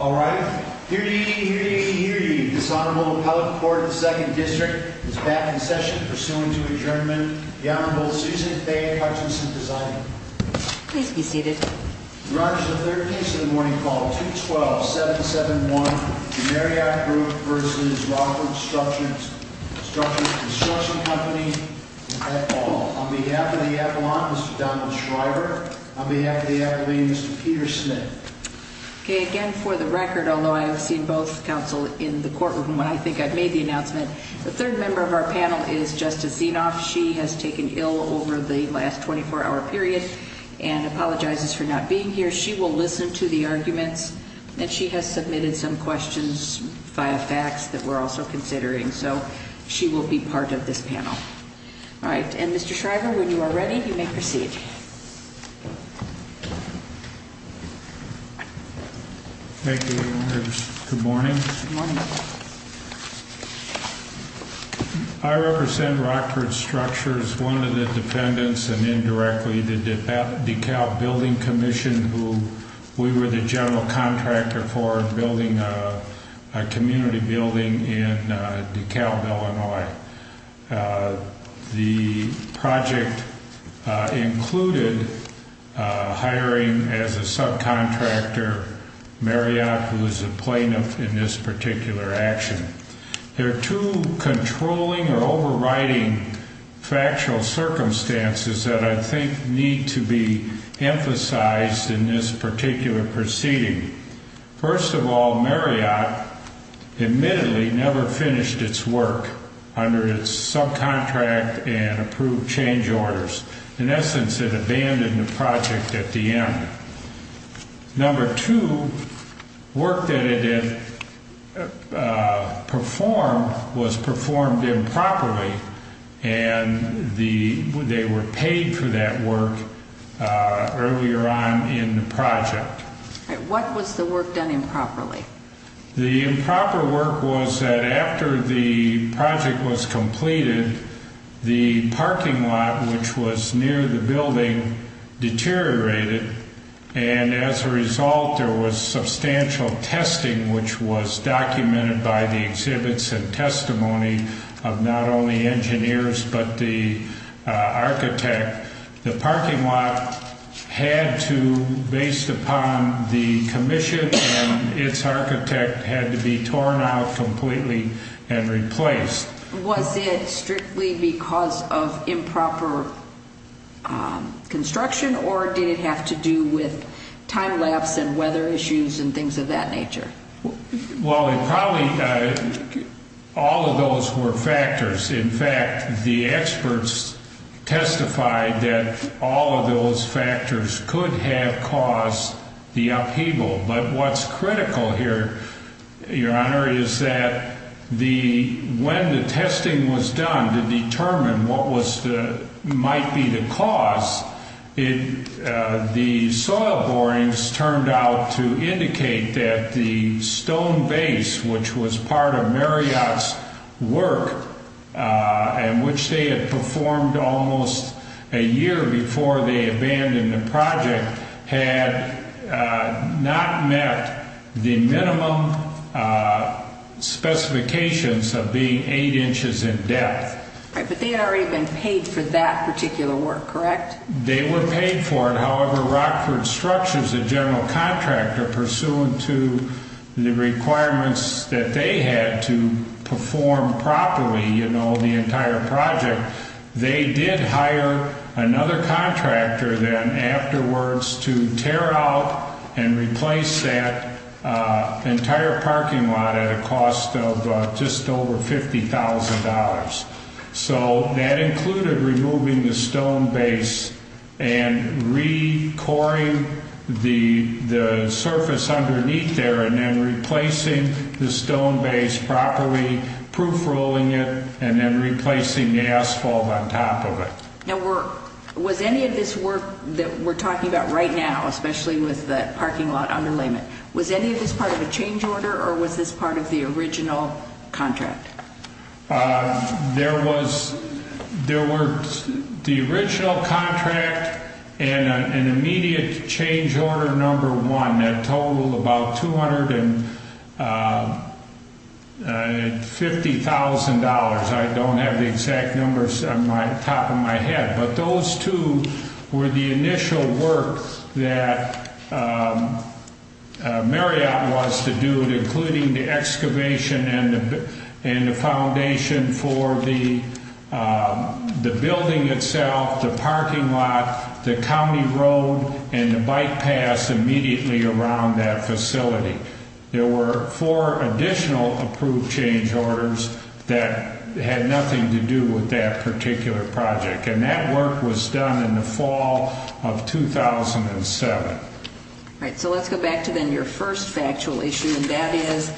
All righty. Hear ye, hear ye, hear ye. This Honorable Appellate Court of the Second District is back in session pursuing to adjournment. The Honorable Susan Faye Hutchinson Presiding. Please be seated. We'll now move to the third case of the morning call. 212-771, The Maryott Group v. Rockford Construction Company, at all. On behalf of the appellant, Mr. Donald Shriver. On behalf of the appellant, Mr. Peter Smith. Okay, again, for the record, although I have seen both counsel in the courtroom when I think I've made the announcement, the third member of our panel is Justice Zinoff. She has taken ill over the last 24-hour period and apologizes for not being here. She will listen to the arguments, and she has submitted some questions via fax that we're also considering. So she will be part of this panel. All right. And Mr. Shriver, when you are ready, you may proceed. Thank you, Your Honor. Good morning. Good morning. I represent Rockford Structures, one of the defendants, and indirectly the DeKalb Building Commission, who we were the general contractor for building a community building in DeKalb, Illinois. The project included hiring as a subcontractor Marriott, who is a plaintiff in this particular action. There are two controlling or overriding factual circumstances that I think need to be emphasized in this particular proceeding. First of all, Marriott admittedly never finished its work under its subcontract and approved change orders. In essence, it abandoned the project at the end. Number two, work that it had performed was performed improperly, and they were paid for that work earlier on in the project. What was the work done improperly? The improper work was that after the project was completed, the parking lot, which was near the building, deteriorated. And as a result, there was substantial testing, which was documented by the exhibits and testimony of not only engineers but the architect. The parking lot had to, based upon the commission and its architect, had to be torn out completely and replaced. Was it strictly because of improper construction, or did it have to do with time lapse and weather issues and things of that nature? Well, it probably, all of those were factors. In fact, the experts testified that all of those factors could have caused the upheaval. But what's critical here, Your Honor, is that when the testing was done to determine what might be the cause, the soil borings turned out to indicate that the stone base, which was part of Marriott's work, and which they had performed almost a year before they abandoned the project, had not met the minimum specifications of being 8 inches in depth. But they had already been paid for that particular work, correct? They were paid for it. However, Rockford structures, the general contractor, pursuant to the requirements that they had to perform properly the entire project, they did hire another contractor then afterwards to tear out and replace that entire parking lot at a cost of just over $50,000. So that included removing the stone base and recoring the surface underneath there, and then replacing the stone base properly, proofrolling it, and then replacing the asphalt on top of it. Now, was any of this work that we're talking about right now, especially with the parking lot underlayment, was any of this part of a change order, or was this part of the original contract? There was the original contract and an immediate change order number one that totaled about $250,000. I don't have the exact numbers on the top of my head, but those two were the initial work that Marriott was to do, including the excavation and the foundation for the building itself, the parking lot, the county road, and the bike paths immediately around that facility. There were four additional approved change orders that had nothing to do with that particular project. And that work was done in the fall of 2007. All right, so let's go back to then your first factual issue, and that is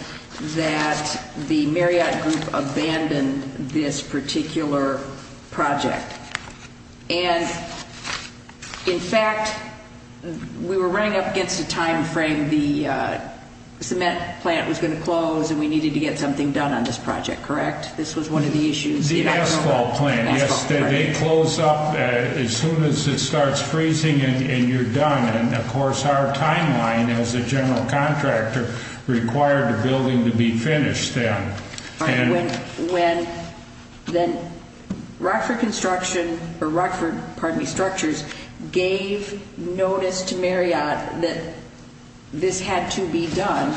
that the Marriott Group abandoned this particular project. And, in fact, we were running up against a time frame. The cement plant was going to close, and we needed to get something done on this project, correct? This was one of the issues. The asphalt plant, yes, they close up as soon as it starts freezing and you're done. And, of course, our timeline as a general contractor required the building to be finished then. All right, when Rockford Construction, or Rockford, pardon me, Structures, gave notice to Marriott that this had to be done,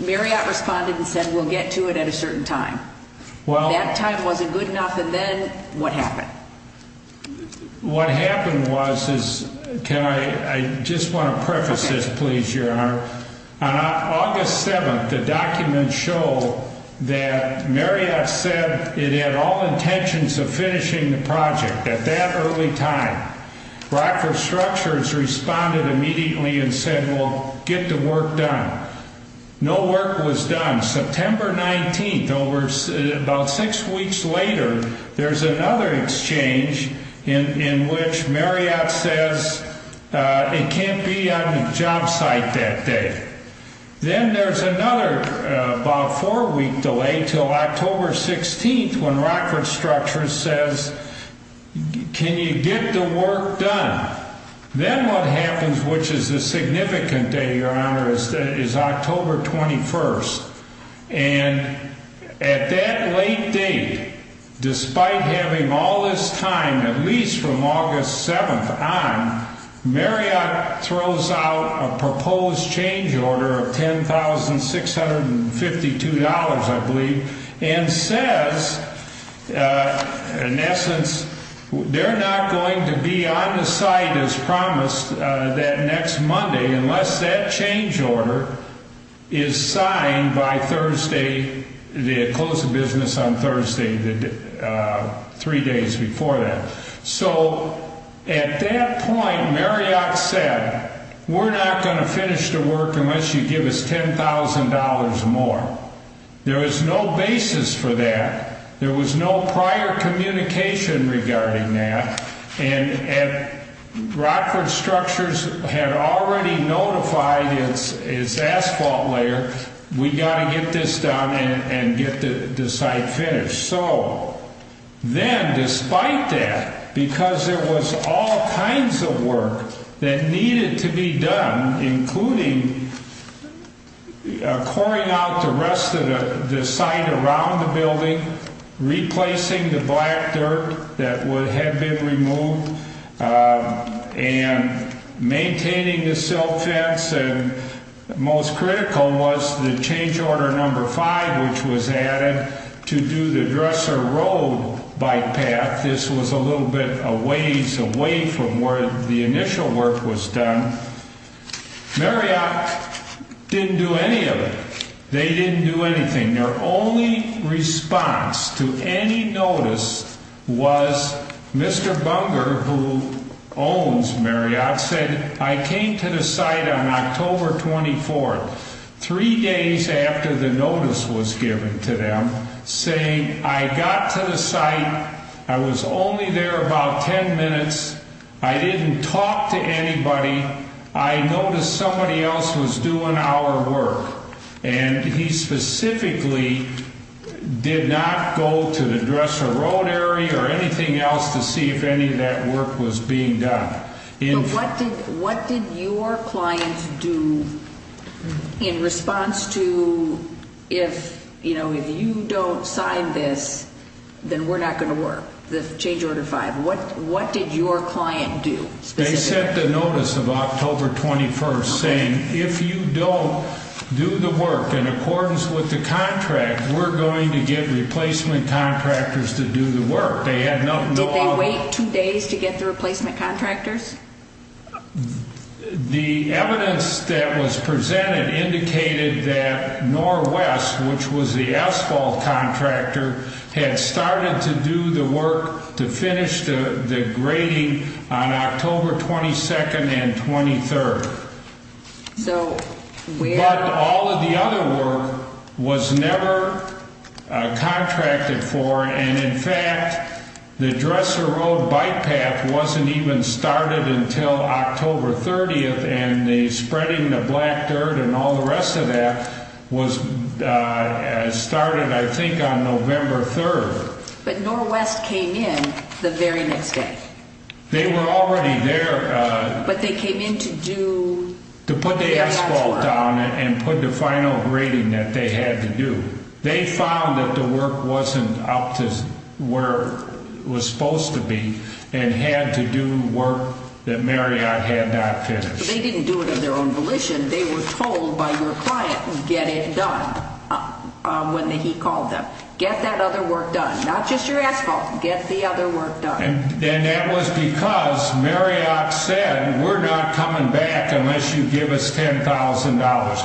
Marriott responded and said, we'll get to it at a certain time. That time wasn't good enough, and then what happened? What happened was, I just want to preface this, please, Your Honor. On August 7, the documents show that Marriott said it had all intentions of finishing the project at that early time. Rockford Structures responded immediately and said, well, get the work done. No work was done. On September 19, about six weeks later, there's another exchange in which Marriott says it can't be on the job site that day. Then there's another about four-week delay until October 16 when Rockford Structures says, can you get the work done? Then what happens, which is a significant day, Your Honor, is October 21. And at that late date, despite having all this time, at least from August 7 on, Marriott throws out a proposed change order of $10,652, I believe, and says, in essence, they're not going to be on the site as promised that next Monday unless that change order is signed by Thursday, they close the business on Thursday, three days before that. So at that point, Marriott said, we're not going to finish the work unless you give us $10,000 more. There was no basis for that. There was no prior communication regarding that. And Rockford Structures had already notified its asphalt layer, we've got to get this done and get the site finished. Then, despite that, because there was all kinds of work that needed to be done, including coring out the rest of the site around the building, replacing the black dirt that had been removed, and maintaining the silt fence, and most critical was the change order number five, which was added to do the Dresser Road bike path. This was a little bit a ways away from where the initial work was done. Marriott didn't do any of it. They didn't do anything. Their only response to any notice was Mr. Bunger, who owns Marriott, said, I came to the site on October 24th, three days after the notice was given to them, saying I got to the site, I was only there about 10 minutes, I didn't talk to anybody, I noticed somebody else was doing our work. And he specifically did not go to the Dresser Road area or anything else to see if any of that work was being done. But what did your client do in response to, if you don't sign this, then we're not going to work, the change order five? What did your client do specifically? They sent the notice of October 21st, saying if you don't do the work in accordance with the contract, we're going to get replacement contractors to do the work. Did they wait two days to get the replacement contractors? The evidence that was presented indicated that NorWest, which was the asphalt contractor, had started to do the work to finish the grading on October 22nd and 23rd. But all of the other work was never contracted for, and in fact, the Dresser Road bike path wasn't even started until October 30th, and spreading the black dirt and all the rest of that started, I think, on November 3rd. But NorWest came in the very next day? They were already there. But they came in to do Marriott's work? To put the asphalt down and put the final grading that they had to do. They found that the work wasn't up to where it was supposed to be and had to do work that Marriott had not finished. They didn't do it of their own volition. They were told by your client, get it done, when he called them. Get that other work done, not just your asphalt. Get the other work done. And that was because Marriott said, we're not coming back unless you give us $10,000. Holding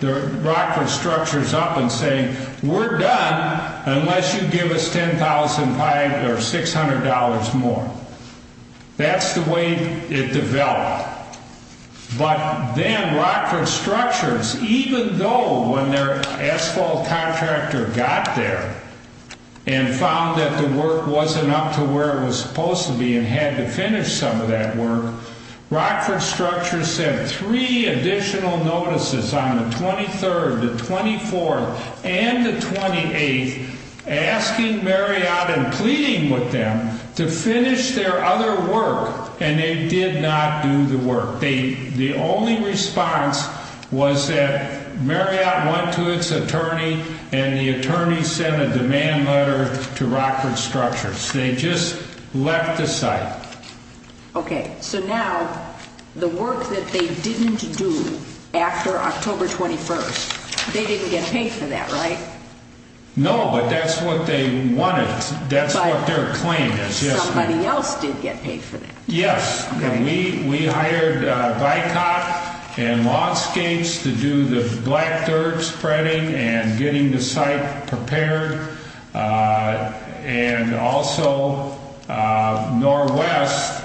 the Rockford structures up and saying, we're done unless you give us $10,500 or $600 more. That's the way it developed. But then Rockford structures, even though when their asphalt contractor got there and found that the work wasn't up to where it was supposed to be and had to finish some of that work, Rockford structures sent three additional notices on the 23rd, the 24th, and the 28th, asking Marriott and pleading with them to finish their other work. And they did not do the work. The only response was that Marriott went to its attorney and the attorney sent a demand letter to Rockford structures. They just left the site. Okay. So now the work that they didn't do after October 21st, they didn't get paid for that, right? No, but that's what they wanted. That's what their claim is. Somebody else did get paid for that. Yes. We hired Bicot and Lawnscapes to do the black dirt spreading and getting the site prepared. And also, NorWest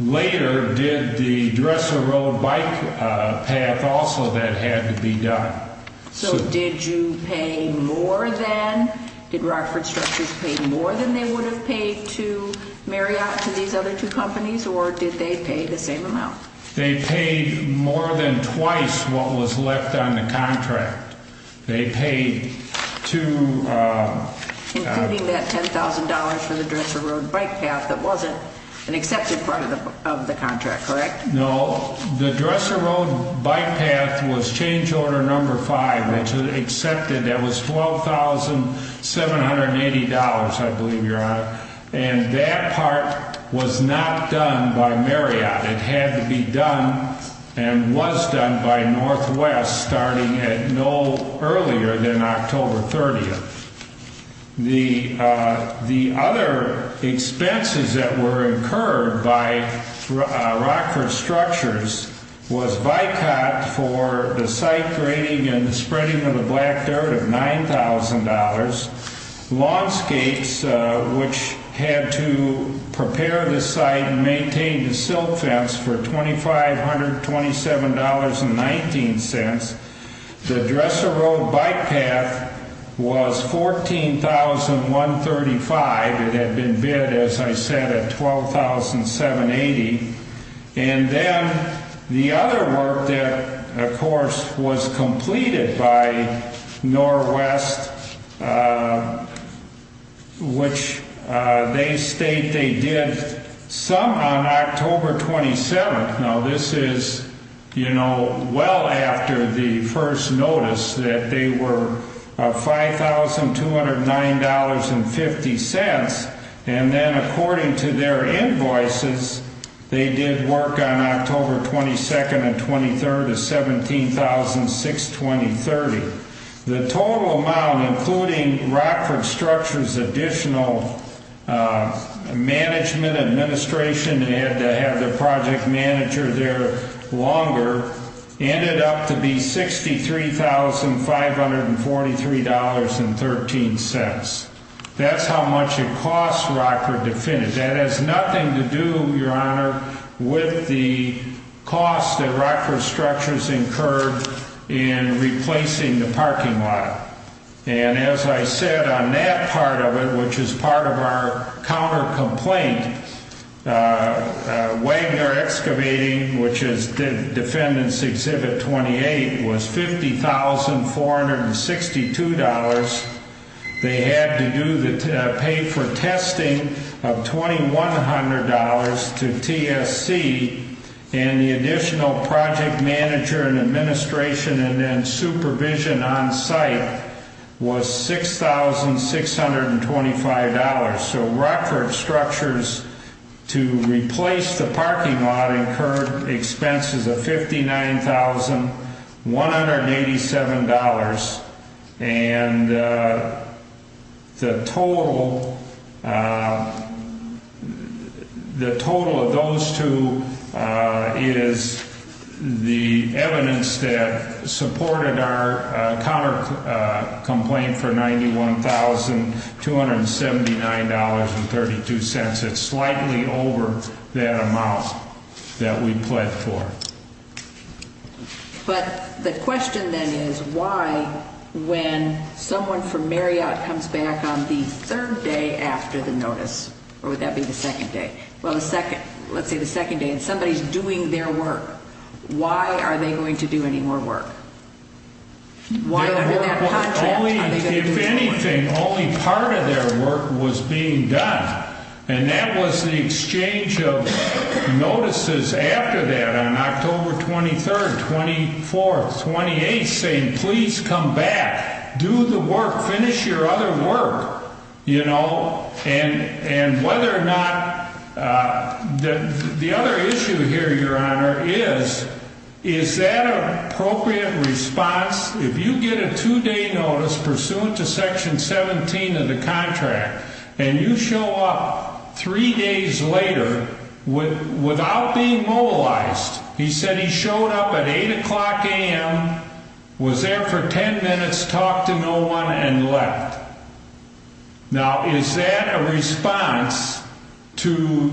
later did the Dressel Road bike path also that had to be done. So did you pay more than, did Rockford structures pay more than they would have paid to Marriott, to these other two companies, or did they pay the same amount? They paid more than twice what was left on the contract. They paid to Including that $10,000 for the Dressel Road bike path that wasn't an accepted part of the contract, correct? No. The Dressel Road bike path was change order number five, which was accepted. That was $12,780, I believe you're on it. And that part was not done by Marriott. It had to be done and was done by NorWest starting at no earlier than October 30th. The other expenses that were incurred by Rockford structures was Bicot for the site grading and the spreading of the black dirt of $9,000. Lawnscapes, which had to prepare the site and maintain the silt fence for $2,527.19. The Dressel Road bike path was $14,135. It had been bid, as I said, at $12,780. And then the other work that, of course, was completed by NorWest, which they state they did some on October 27th. Now this is, you know, well after the first notice that they were $5,209.50. And then according to their invoices, they did work on October 22nd and 23rd at $17,620.30. The total amount, including Rockford structures' additional management administration, they had to have their project manager there longer, ended up to be $63,543.13. That's how much it cost Rockford to finish. That has nothing to do, Your Honor, with the cost that Rockford structures incurred in replacing the parking lot. And as I said on that part of it, which is part of our counter complaint, Wagner Excavating, which is Defendant's Exhibit 28, was $50,462. They had to pay for testing of $2,100 to TSC, and the additional project manager and administration and then supervision on site was $6,625. So Rockford structures, to replace the parking lot, incurred expenses of $59,187. And the total of those two is the evidence that supported our counter complaint for $91,279.32. It's slightly over that amount that we pled for. But the question then is why, when someone from Marriott comes back on the third day after the notice, or would that be the second day? Well, let's say the second day, and somebody's doing their work. Why are they going to do any more work? Why, under that context, are they going to do more work? If anything, only part of their work was being done, and that was the exchange of notices after that on October 23rd, 24th, 28th, saying, please come back, do the work, finish your other work, you know, and whether or not the other issue here, Your Honor, is, is that an appropriate response? If you get a two-day notice pursuant to Section 17 of the contract, and you show up three days later without being mobilized, he said he showed up at 8 o'clock a.m., was there for 10 minutes, talked to no one, and left. Now, is that a response to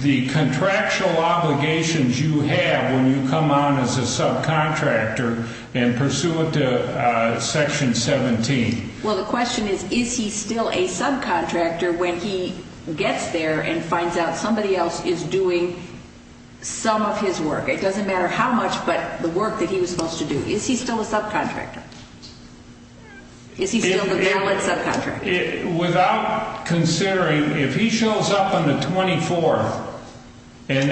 the contractual obligations you have when you come on as a subcontractor and pursuant to Section 17? Well, the question is, is he still a subcontractor when he gets there and finds out somebody else is doing some of his work? It doesn't matter how much, but the work that he was supposed to do. Is he still a subcontractor? Is he still the valid subcontractor? Without considering, if he shows up on the 24th, and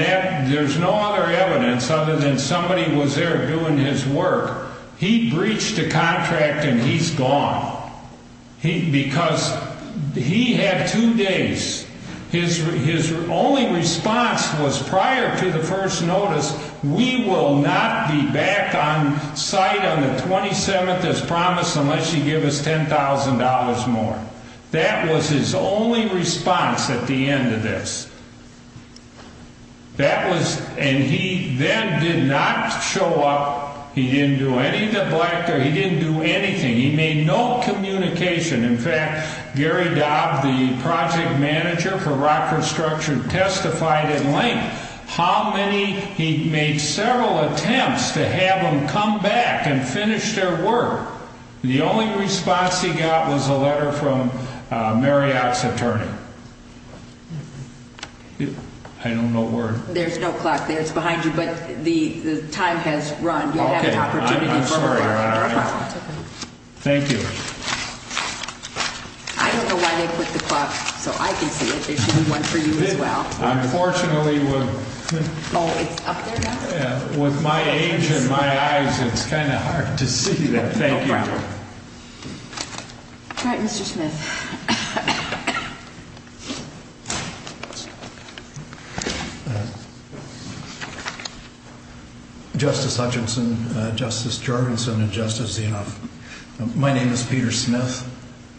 there's no other evidence other than somebody was there doing his work, he breached the contract and he's gone. Because he had two days. His only response was, prior to the first notice, we will not be back on site on the 27th as promised unless you give us $10,000 more. That was his only response at the end of this. And he then did not show up. He didn't do anything. He made no communication. In fact, Gary Dobb, the project manager for Rockford Structure, testified in length how many he made several attempts to have them come back and finish their work. The only response he got was a letter from Marriott's attorney. I don't know where. There's no clock there. It's behind you. But the time has run. You'll have an opportunity to show it. Okay. I'm sorry. Thank you. I don't know why they put the clock so I can see it. There should be one for you as well. Unfortunately, with my age and my eyes, it's kind of hard to see that. Thank you. No problem. All right, Mr. Smith. Justice Hutchinson, Justice Jorgensen, and Justice Zinov. My name is Peter Smith.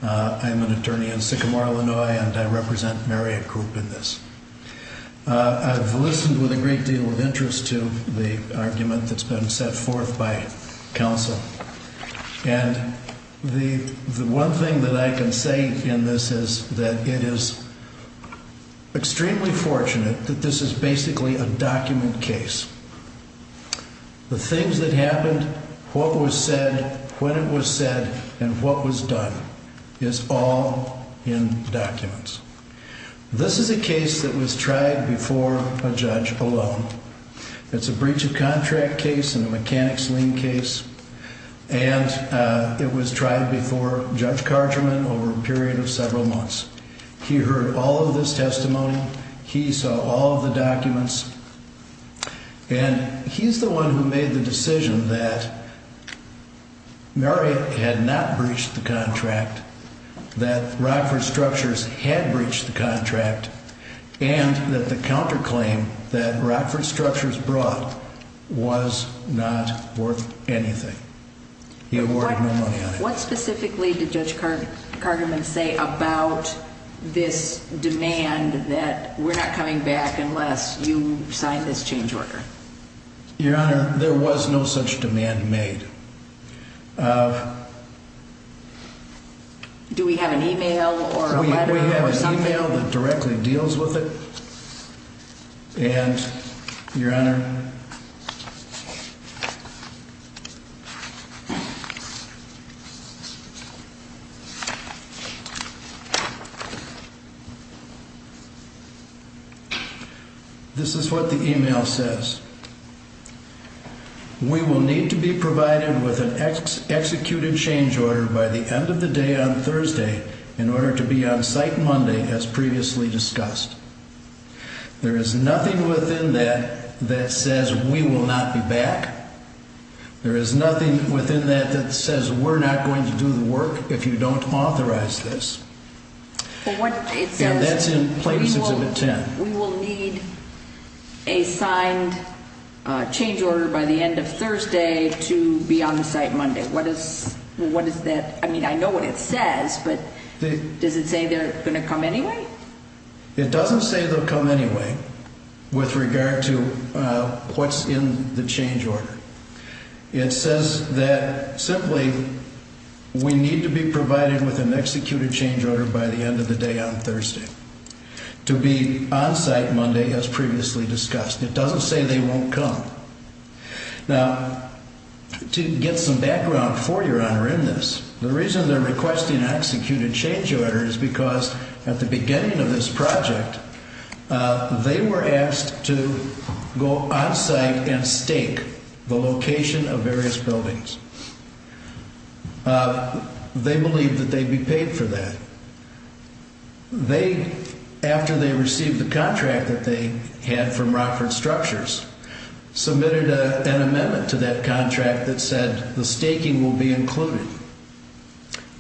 I am an attorney in Sycamore, Illinois, and I represent Marriott Group in this. I've listened with a great deal of interest to the argument that's been set forth by counsel. And the one thing that I can say in this is that it is extremely fortunate that this is basically a document case. The things that happened, what was said, when it was said, and what was done is all in documents. This is a case that was tried before a judge alone. It's a breach of contract case and a mechanics lien case. And it was tried before Judge Carterman over a period of several months. He heard all of this testimony. He saw all of the documents. And he's the one who made the decision that Marriott had not breached the contract, that Rockford Structures had breached the contract, and that the counterclaim that Rockford Structures brought was not worth anything. He awarded no money on it. What specifically did Judge Carterman say about this demand that we're not coming back unless you sign this change order? Your Honor, there was no such demand made. Do we have an email or a letter or something? We have an email that directly deals with it. And, Your Honor, this is what the email says. We will need to be provided with an executed change order by the end of the day on Thursday in order to be on site Monday as previously discussed. There is nothing within that that says we will not be back. There is nothing within that that says we're not going to do the work if you don't authorize this. And that's in Plaintiff's Exhibit 10. We will need a signed change order by the end of Thursday to be on site Monday. What is that? I mean, I know what it says, but does it say they're going to come anyway? It doesn't say they'll come anyway with regard to what's in the change order. It says that simply we need to be provided with an executed change order by the end of the day on Thursday to be on site Monday as previously discussed. It doesn't say they won't come. Now, to get some background for Your Honor in this, the reason they're requesting an executed change order is because at the beginning of this project, they were asked to go on site and stake the location of various buildings. They believed that they'd be paid for that. They, after they received the contract that they had from Rockford Structures, submitted an amendment to that contract that said the staking will be included.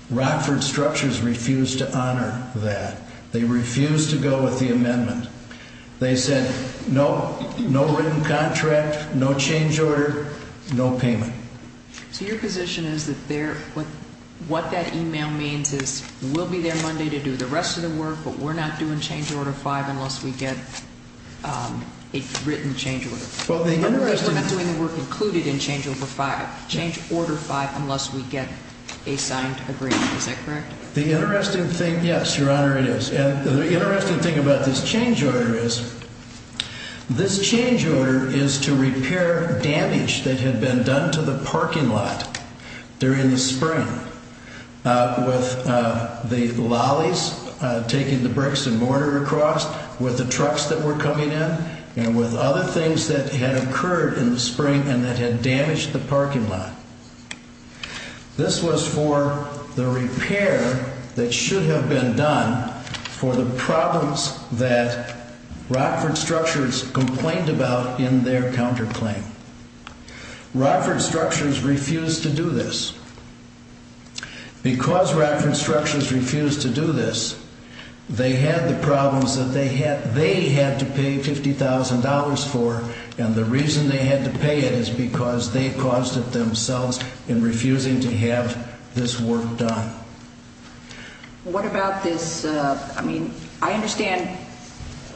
Rockford Structures refused to honor that. They refused to go with the amendment. They said no written contract, no change order, no payment. So your position is that what that email means is we'll be there Monday to do the rest of the work, but we're not doing change order five unless we get a written change order. We're not doing the work included in change order five unless we get a signed agreement. Is that correct? The interesting thing, yes, Your Honor, it is. And the interesting thing about this change order is this change order is to repair damage that had been done to the parking lot during the spring, with the lollies taking the bricks and mortar across, with the trucks that were coming in, and with other things that had occurred in the spring and that had damaged the parking lot. This was for the repair that should have been done for the problems that Rockford Structures complained about in their counterclaim. Rockford Structures refused to do this. Because Rockford Structures refused to do this, they had the problems that they had to pay $50,000 for, and the reason they had to pay it is because they caused it themselves in refusing to have this work done. What about this? I mean, I understand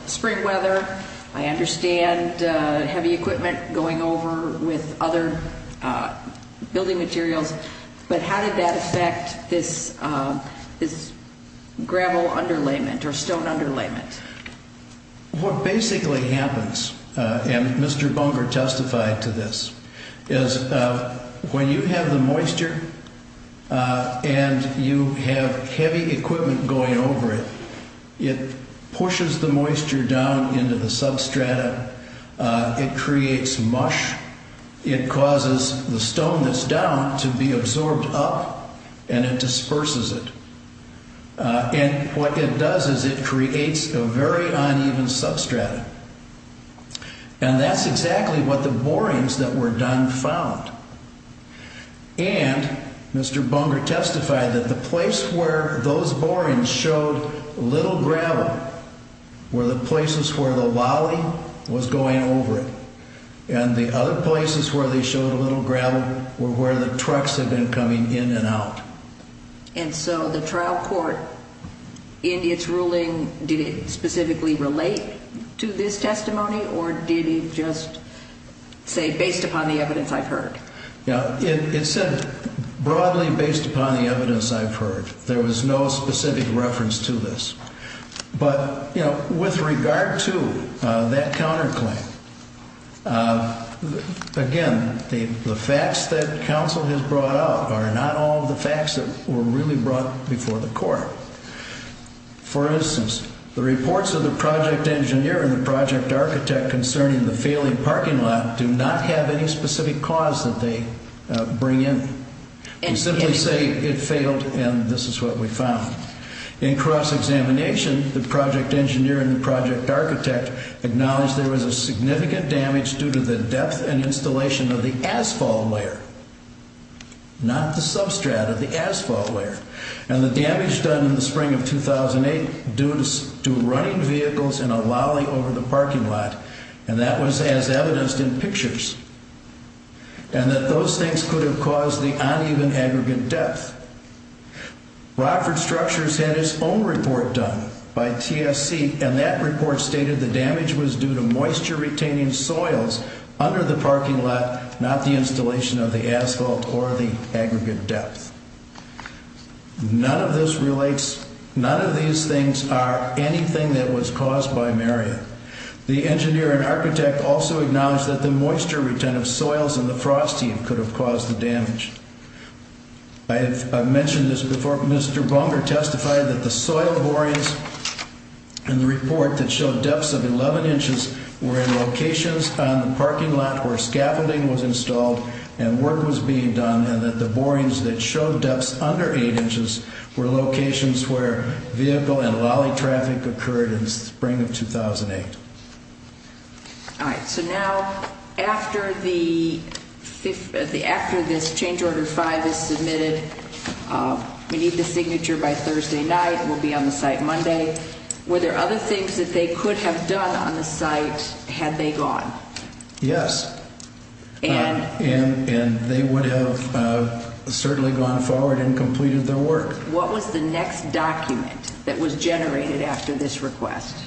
spring weather. I understand heavy equipment going over with other building materials. But how did that affect this gravel underlayment or stone underlayment? What basically happens, and Mr. Bunger testified to this, is when you have the moisture and you have heavy equipment going over it, it pushes the moisture down into the substrata. It creates mush. It causes the stone that's down to be absorbed up, and it disperses it. And what it does is it creates a very uneven substrata. And that's exactly what the borings that were done found. And Mr. Bunger testified that the place where those borings showed little gravel were the places where the lolly was going over it, and the other places where they showed a little gravel were where the trucks had been coming in and out. And so the trial court, in its ruling, did it specifically relate to this testimony, or did it just say, based upon the evidence I've heard? It said broadly based upon the evidence I've heard. There was no specific reference to this. But with regard to that counterclaim, again, the facts that counsel has brought out are not all the facts that were really brought before the court. For instance, the reports of the project engineer and the project architect concerning the failing parking lot do not have any specific cause that they bring in. They simply say it failed and this is what we found. In cross-examination, the project engineer and the project architect acknowledge there was a significant damage due to the depth and installation of the asphalt layer, not the substrata, the asphalt layer. And the damage done in the spring of 2008 due to running vehicles in a lolly over the parking lot, and that was as evidenced in pictures, and that those things could have caused the uneven aggregate depth. Rockford Structures had its own report done by TSC, and that report stated the damage was due to moisture retaining soils under the parking lot, not the installation of the asphalt or the aggregate depth. None of this relates, none of these things are anything that was caused by Marriott. The engineer and architect also acknowledge that the moisture retain of soils and the frost heat could have caused the damage. I've mentioned this before, Mr. Bunker testified that the soil borings in the report that showed depths of 11 inches were in locations on the parking lot where scaffolding was installed and work was being done, and that the borings that showed depths under 8 inches were locations where vehicle and lolly traffic occurred in the spring of 2008. All right, so now after this change order 5 is submitted, we need the signature by Thursday night, we'll be on the site Monday. Were there other things that they could have done on the site had they gone? Yes, and they would have certainly gone forward and completed their work. What was the next document that was generated after this request,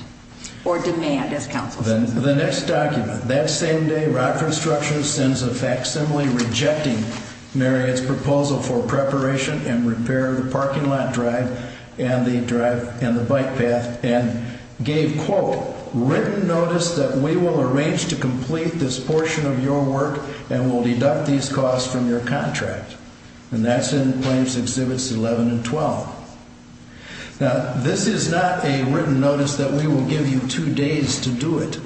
or demand as counsel says? The next document, that same day Rockford Structures sends a facsimile rejecting Marriott's proposal for preparation and repair of the parking lot drive and the drive and the bike path and gave, quote, written notice that we will arrange to complete this portion of your work and we'll deduct these costs from your contract, and that's in claims exhibits 11 and 12. Now, this is not a written notice that we will give you two days to do it,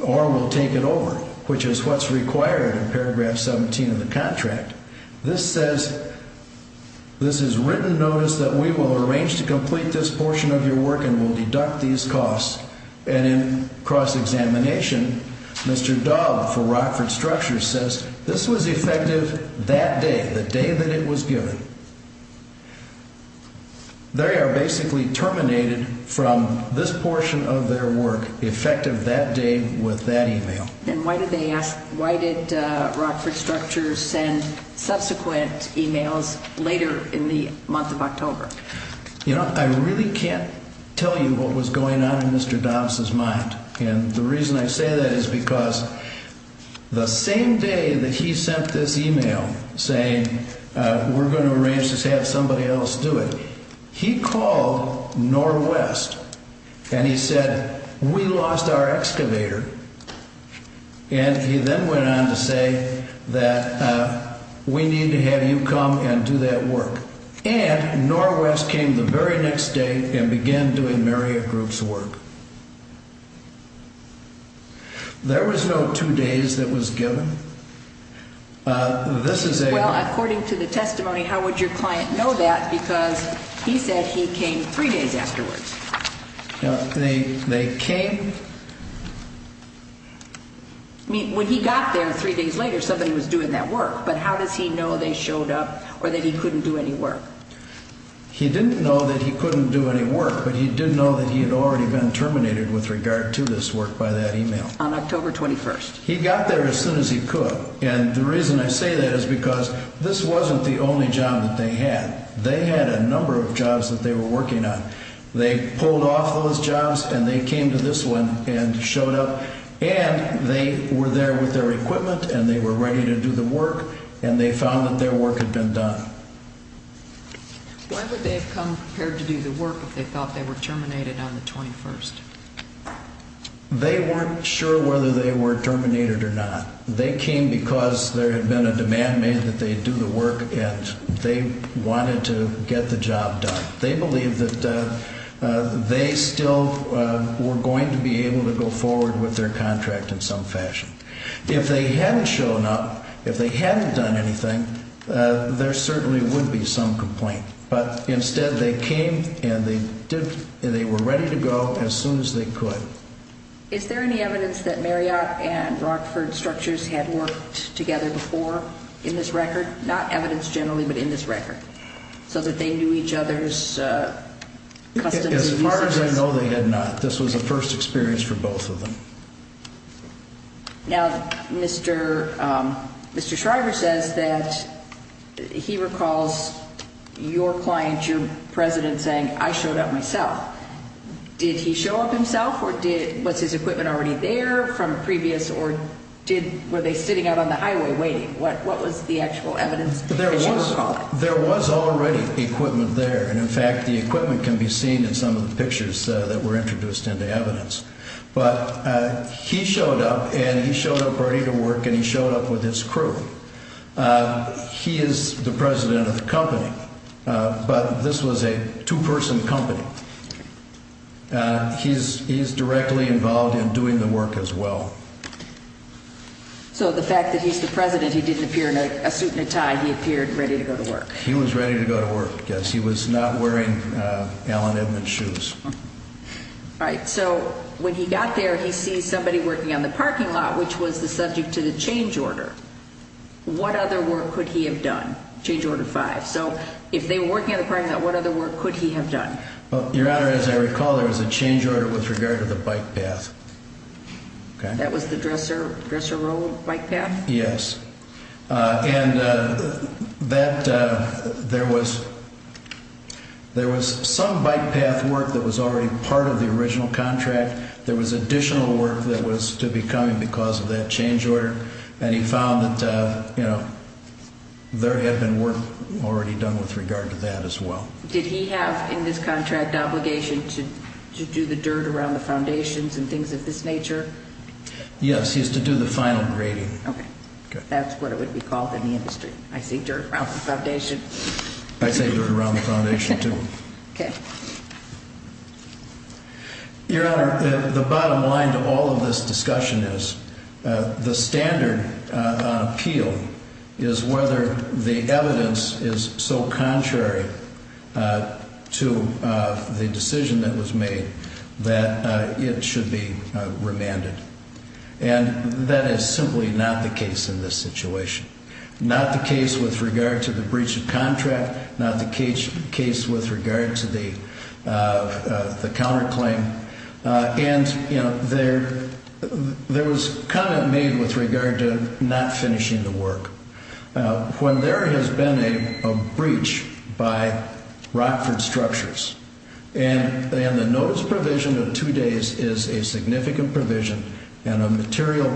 or we'll take it over, which is what's required in paragraph 17 of the contract. This says, this is written notice that we will arrange to complete this portion of your work and we'll deduct these costs, and in cross-examination, Mr. Daub for Rockford Structures says this was effective that day, the day that it was given. They are basically terminated from this portion of their work effective that day with that email. And why did they ask, why did Rockford Structures send subsequent emails later in the month of October? You know, I really can't tell you what was going on in Mr. Daub's mind. And the reason I say that is because the same day that he sent this email saying we're going to arrange to have somebody else do it, he called NorWest and he said, we lost our excavator, and he then went on to say that we need to have you come and do that work. And NorWest came the very next day and began doing Marriott Group's work. There was no two days that was given. This is a... Well, according to the testimony, how would your client know that? Because he said he came three days afterwards. They came... When he got there three days later, somebody was doing that work. But how does he know they showed up or that he couldn't do any work? He didn't know that he couldn't do any work, but he did know that he had already been terminated with regard to this work by that email. On October 21st. He got there as soon as he could. And the reason I say that is because this wasn't the only job that they had. They had a number of jobs that they were working on. They pulled off those jobs and they came to this one and showed up. And they were there with their equipment and they were ready to do the work. And they found that their work had been done. Why would they have come prepared to do the work if they thought they were terminated on the 21st? They weren't sure whether they were terminated or not. They came because there had been a demand made that they do the work and they wanted to get the job done. They believed that they still were going to be able to go forward with their contract in some fashion. If they hadn't shown up, if they hadn't done anything, there certainly would be some complaint. But instead they came and they were ready to go as soon as they could. Is there any evidence that Marriott and Rockford structures had worked together before in this record? Not evidence generally, but in this record, so that they knew each other's customs and practices? As far as I know, they had not. This was a first experience for both of them. Now, Mr. Shriver says that he recalls your client, your president, saying, I showed up myself. Did he show up himself or was his equipment already there from previous or were they sitting out on the highway waiting? What was the actual evidence as you recall it? There was already equipment there. And, in fact, the equipment can be seen in some of the pictures that were introduced into evidence. But he showed up and he showed up ready to work and he showed up with his crew. He is the president of the company, but this was a two-person company. He's directly involved in doing the work as well. So the fact that he's the president, he didn't appear in a suit and a tie. He appeared ready to go to work. He was ready to go to work. Yes, he was not wearing Allen Edmonds shoes. All right. So when he got there, he sees somebody working on the parking lot, which was the subject to the change order. What other work could he have done? Change order five. So if they were working on the parking lot, what other work could he have done? Your Honor, as I recall, there was a change order with regard to the bike path. That was the dresser roll bike path? Yes. And there was some bike path work that was already part of the original contract. There was additional work that was to be coming because of that change order. And he found that there had been work already done with regard to that as well. Did he have in this contract obligation to do the dirt around the foundations and things of this nature? Yes, he has to do the final grading. Okay. That's what it would be called in the industry. I say dirt around the foundation. I say dirt around the foundation, too. Okay. Your Honor, the bottom line to all of this discussion is the standard appeal is whether the evidence is so contrary to the decision that was made that it should be remanded. And that is simply not the case in this situation. Not the case with regard to the breach of contract. Not the case with regard to the counterclaim. And, you know, there was comment made with regard to not finishing the work. When there has been a breach by Rockford Structures, and the notice provision of two days is a significant provision and a material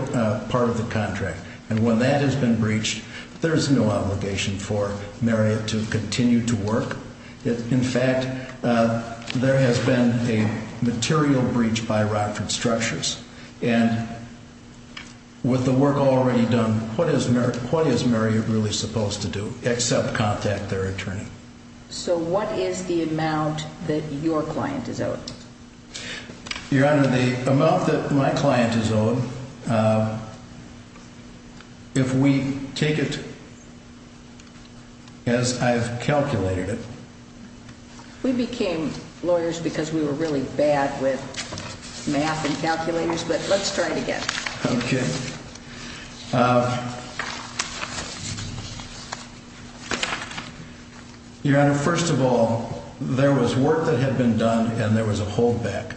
part of the contract. And when that has been breached, there is no obligation for Marriott to continue to work. In fact, there has been a material breach by Rockford Structures. And with the work already done, what is Marriott really supposed to do except contact their attorney? So what is the amount that your client is owed? Your Honor, the amount that my client is owed, if we take it as I've calculated it. We became lawyers because we were really bad with math and calculators, but let's try it again. Okay. Your Honor, first of all, there was work that had been done and there was a holdback.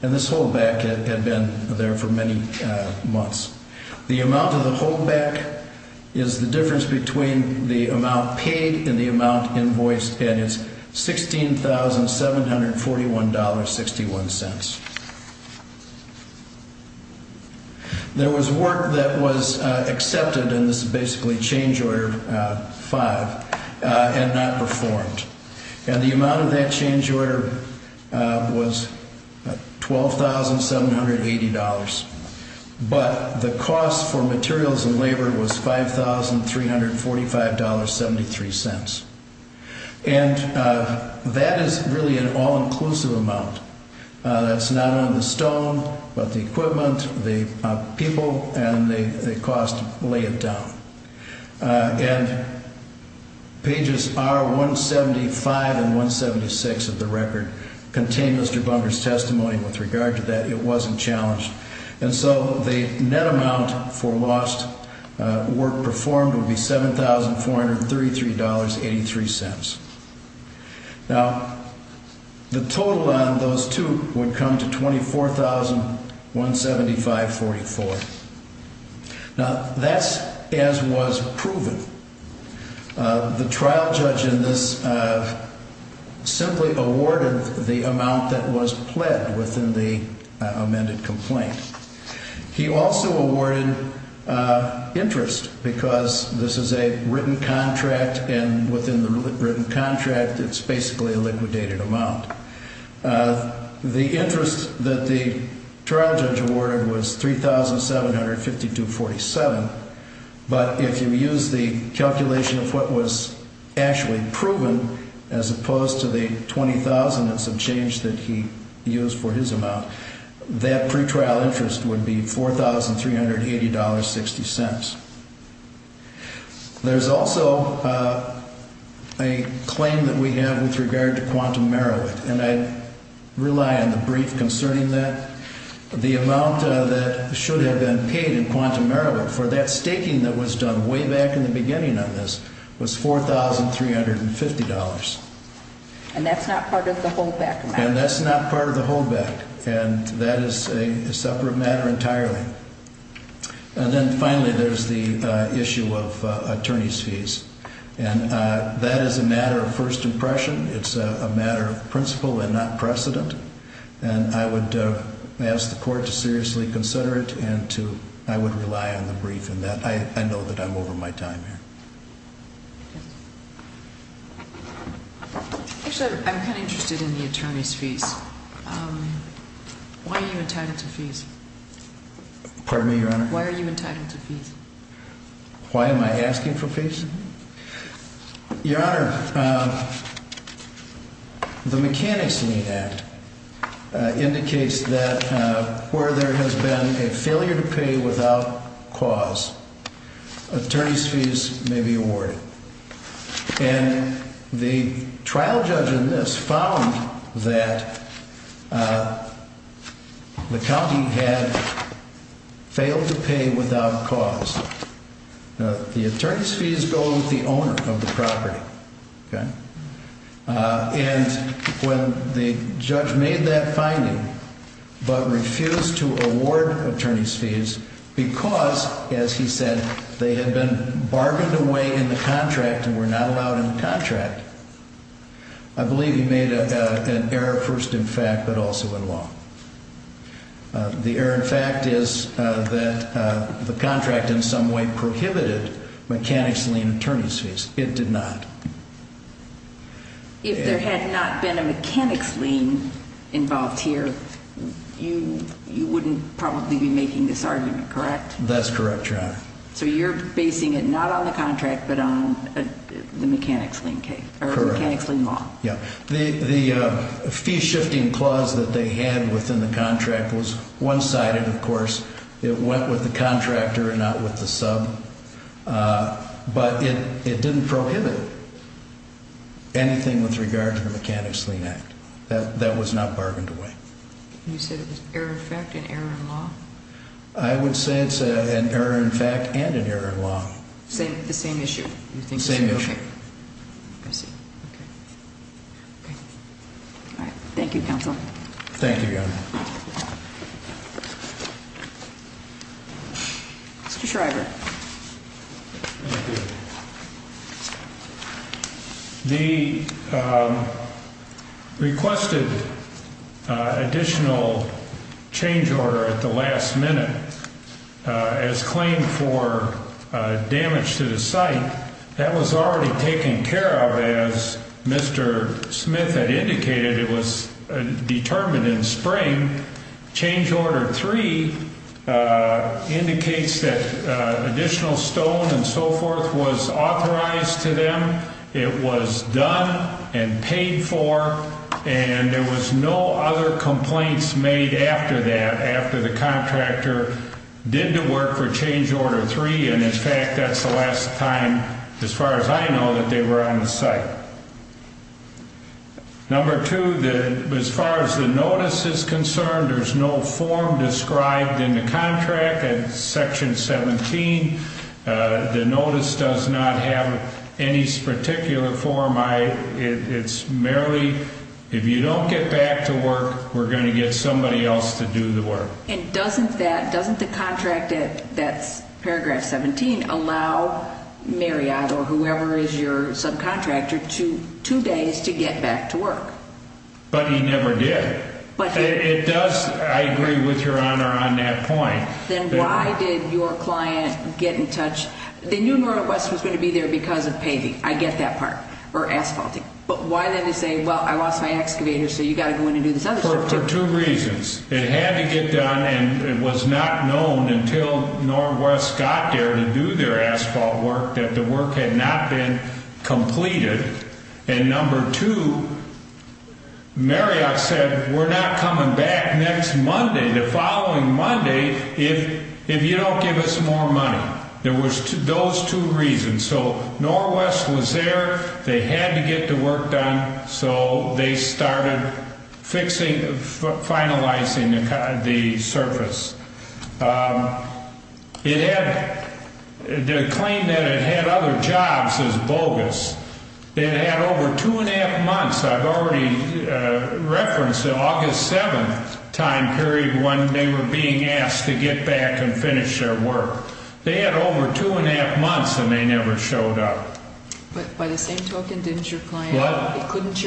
And this holdback had been there for many months. The amount of the holdback is the difference between the amount paid and the amount invoiced, and it's $16,741.61. There was work that was accepted, and this is basically change order five, and not performed. And the amount of that change order was $12,780. But the cost for materials and labor was $5,345.73. And that is really an all-inclusive amount. That's not on the stone, but the equipment, the people, and the cost lay it down. And pages R175 and 176 of the record contain Mr. Bunker's testimony with regard to that. It wasn't challenged. And so the net amount for lost work performed would be $7,433.83. Now, the total on those two would come to $24,175.44. Now, that's as was proven. The trial judge in this simply awarded the amount that was pled within the amended complaint. He also awarded interest because this is a written contract, and within the written contract, it's basically a liquidated amount. The interest that the trial judge awarded was $3,752.47. But if you use the calculation of what was actually proven, as opposed to the $20,000 and some change that he used for his amount, that pretrial interest would be $4,380.60. There's also a claim that we have with regard to quantum merit. And I rely on the brief concerning that. The amount that should have been paid in quantum merit for that staking that was done way back in the beginning on this was $4,350. And that's not part of the holdback amount? And that's not part of the holdback. And that is a separate matter entirely. And then finally, there's the issue of attorney's fees. And that is a matter of first impression. It's a matter of principle and not precedent. And I would ask the court to seriously consider it, and I would rely on the brief in that. I know that I'm over my time here. Actually, I'm kind of interested in the attorney's fees. Why are you entitled to fees? Pardon me, Your Honor? Why are you entitled to fees? Why am I asking for fees? Your Honor, the Mechanics Lien Act indicates that where there has been a failure to pay without cause, attorney's fees may be awarded. And the trial judge in this found that the county had failed to pay without cause. The attorney's fees go with the owner of the property. And when the judge made that finding, but refused to award attorney's fees because, as he said, they had been bargained away in the contract and were not allowed in the contract, I believe he made an error first in fact, but also in law. The error in fact is that the contract in some way prohibited Mechanics Lien attorney's fees. It did not. If there had not been a Mechanics Lien involved here, you wouldn't probably be making this argument, correct? That's correct, Your Honor. So you're basing it not on the contract, but on the Mechanics Lien Law. Yeah. The fee-shifting clause that they had within the contract was one-sided, of course. It went with the contractor and not with the sub. But it didn't prohibit anything with regard to the Mechanics Lien Act. That was not bargained away. You said it was error in fact and error in law? I would say it's an error in fact and an error in law. The same issue? Same issue. Okay. I see. Okay. All right. Thank you, Counsel. Thank you, Your Honor. Mr. Shriver. Thank you. The requested additional change order at the last minute as claimed for damage to the site. That was already taken care of. As Mr. Smith had indicated, it was determined in spring. Change Order 3 indicates that additional stone and so forth was authorized to them. It was done and paid for. And there was no other complaints made after that, after the contractor did the work for Change Order 3. And, in fact, that's the last time, as far as I know, that they were on the site. Number two, as far as the notice is concerned, there's no form described in the contract in Section 17. The notice does not have any particular form. It's merely, if you don't get back to work, we're going to get somebody else to do the work. And doesn't the contract that's Paragraph 17 allow Marriott or whoever is your subcontractor two days to get back to work? But he never did. It does, I agree with Your Honor on that point. Then why did your client get in touch? They knew Northwest was going to be there because of paving, I get that part, or asphalting. But why then to say, well, I lost my excavator, so you've got to go in and do this other shift, too? Well, for two reasons. It had to get done, and it was not known until Northwest got there to do their asphalt work that the work had not been completed. And number two, Marriott said, we're not coming back next Monday, the following Monday, if you don't give us more money. There was those two reasons. So Northwest was there, they had to get the work done, so they started finalizing the surface. The claim that it had other jobs is bogus. It had over two and a half months. I've already referenced the August 7th time period when they were being asked to get back and finish their work. They had over two and a half months, and they never showed up. But by the same token, couldn't your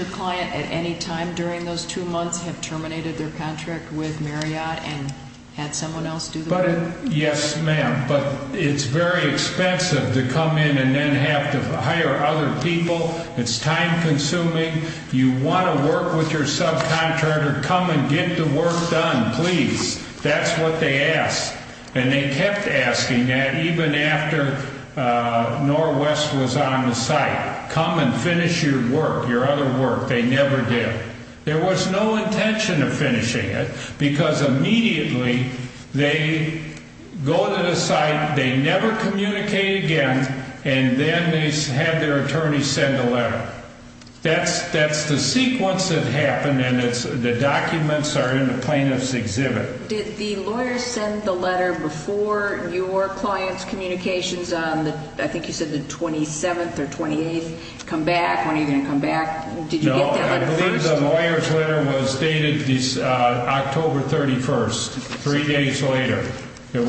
client at any time during those two months have terminated their contract with Marriott and had someone else do the work? Yes, ma'am, but it's very expensive to come in and then have to hire other people. It's time consuming. You want to work with your subcontractor, come and get the work done, please. That's what they asked. And they kept asking that even after Northwest was on the site, come and finish your work, your other work. They never did. There was no intention of finishing it because immediately they go to the site, they never communicate again, and then they had their attorney send a letter. That's the sequence that happened, and the documents are in the plaintiff's exhibit. Did the lawyer send the letter before your client's communications on, I think you said the 27th or 28th, come back, when are you going to come back? Did you get that letter first? No, I believe the lawyer's letter was dated October 31st, three days later. That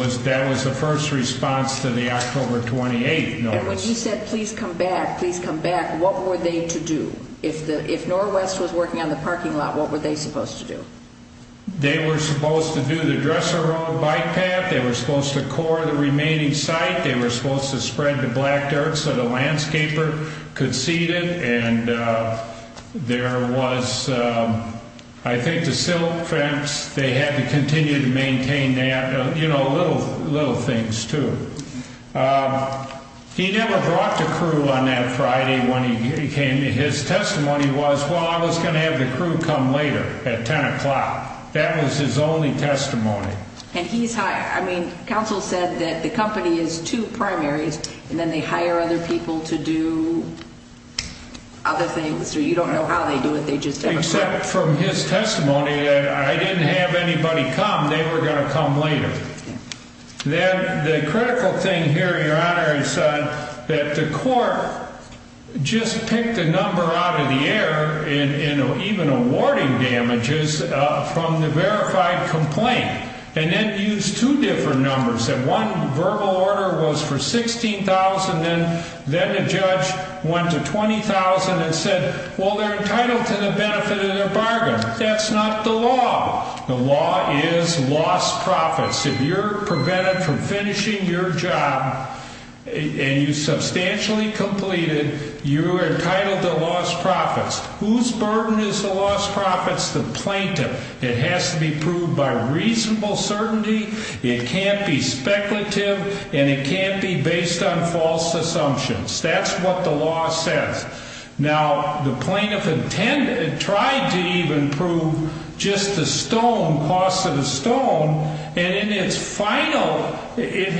was the first response to the October 28th notice. And when you said, please come back, please come back, what were they to do? If Northwest was working on the parking lot, what were they supposed to do? They were supposed to do the Dresser Road bike path. They were supposed to core the remaining site. They were supposed to spread the black dirt so the landscaper could see it. And there was, I think the silt fence, they had to continue to maintain that, you know, little things, too. He never brought the crew on that Friday when he came. His testimony was, well, I was going to have the crew come later at 10 o'clock. That was his only testimony. And he's hired. I mean, counsel said that the company is two primaries, and then they hire other people to do other things, or you don't know how they do it. Except from his testimony, I didn't have anybody come. They were going to come later. Then the critical thing here, Your Honor, is that the court just picked a number out of the air, even awarding damages from the verified complaint, and then used two different numbers. One verbal order was for $16,000, and then the judge went to $20,000 and said, well, they're entitled to the benefit of their bargain. That's not the law. The law is lost profits. If you're prevented from finishing your job and you substantially completed, you are entitled to lost profits. Whose burden is the lost profits? The plaintiff. It has to be proved by reasonable certainty. It can't be speculative, and it can't be based on false assumptions. That's what the law says. Now, the plaintiff tried to even prove just the stone, cost of the stone, and in its final, it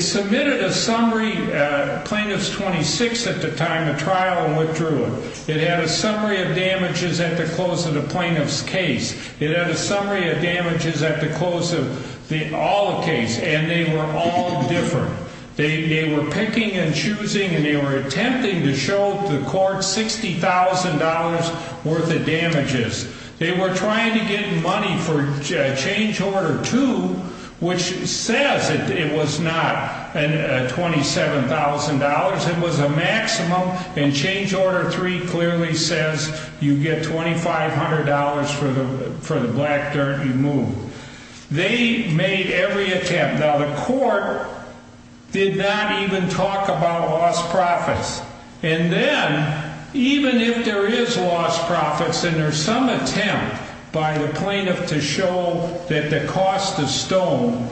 submitted a summary, Plaintiff's 26 at the time, a trial, and withdrew it. It had a summary of damages at the close of the plaintiff's case. It had a summary of damages at the close of all the cases, and they were all different. They were picking and choosing, and they were attempting to show the court $60,000 worth of damages. They were trying to get money for change order two, which says it was not $27,000. It was a maximum, and change order three clearly says you get $2,500 for the black dirt you moved. They made every attempt. Now, the court did not even talk about lost profits. And then, even if there is lost profits and there's some attempt by the plaintiff to show that the cost of stone,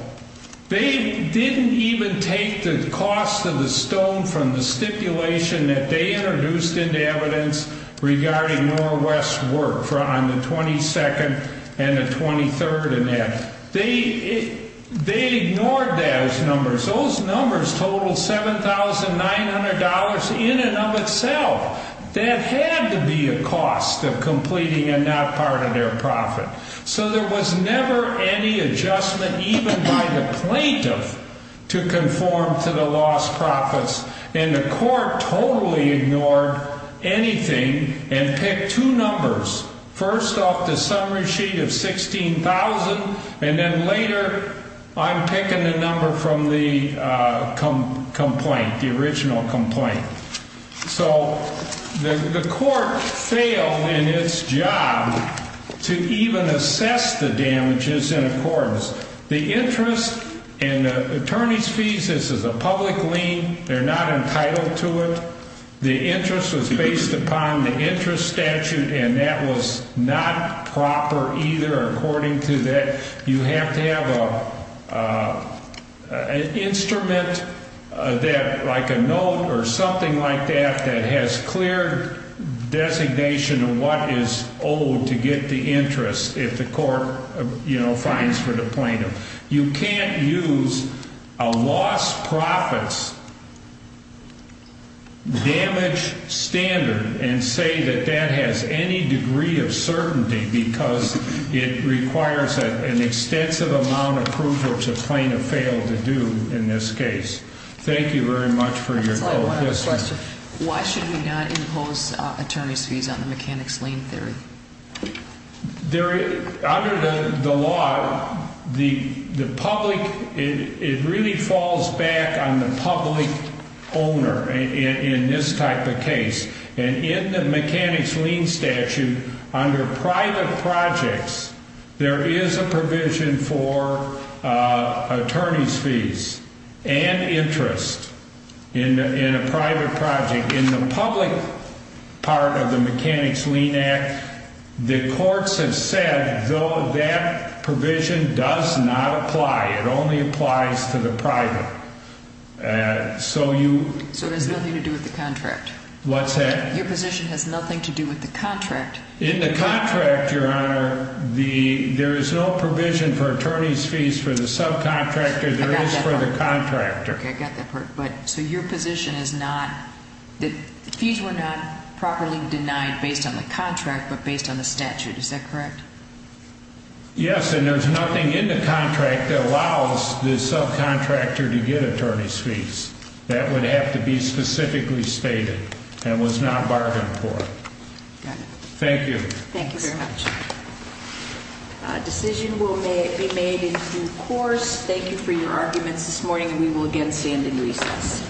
they didn't even take the cost of the stone from the stipulation that they introduced into evidence regarding Norwest's work on the 22nd and the 23rd and that. They ignored those numbers. Those numbers totaled $7,900 in and of itself. That had to be a cost of completing and not part of their profit. So there was never any adjustment even by the plaintiff to conform to the lost profits, and the court totally ignored anything and picked two numbers. First off, the summary sheet of $16,000, and then later on, picking the number from the complaint, the original complaint. So the court failed in its job to even assess the damages in accordance. The interest and the attorney's fees, this is a public lien. They're not entitled to it. The interest was based upon the interest statute, and that was not proper either. According to that, you have to have an instrument that, like a note or something like that, that has clear designation of what is owed to get the interest if the court, you know, fines for the plaintiff. You can't use a lost profits damage standard and say that that has any degree of certainty because it requires an extensive amount of approval for the plaintiff to fail to do in this case. Thank you very much for your time. One other question. Why should we not impose attorney's fees on the mechanic's lien theory? Under the law, the public, it really falls back on the public owner in this type of case. And in the mechanic's lien statute, under private projects, there is a provision for attorney's fees and interest in a private project. In the public part of the mechanic's lien act, the courts have said, though, that provision does not apply. It only applies to the private. So there's nothing to do with the contract. What's that? Your position has nothing to do with the contract. In the contract, Your Honor, there is no provision for attorney's fees for the subcontractor. There is for the contractor. Okay, I got that part. So your position is not that fees were not properly denied based on the contract but based on the statute. Is that correct? Yes, and there's nothing in the contract that allows the subcontractor to get attorney's fees. That would have to be specifically stated and was not bargained for. Got it. Thank you. Thank you very much. A decision will be made in due course. Thank you for your arguments this morning, and we will again stand in recess.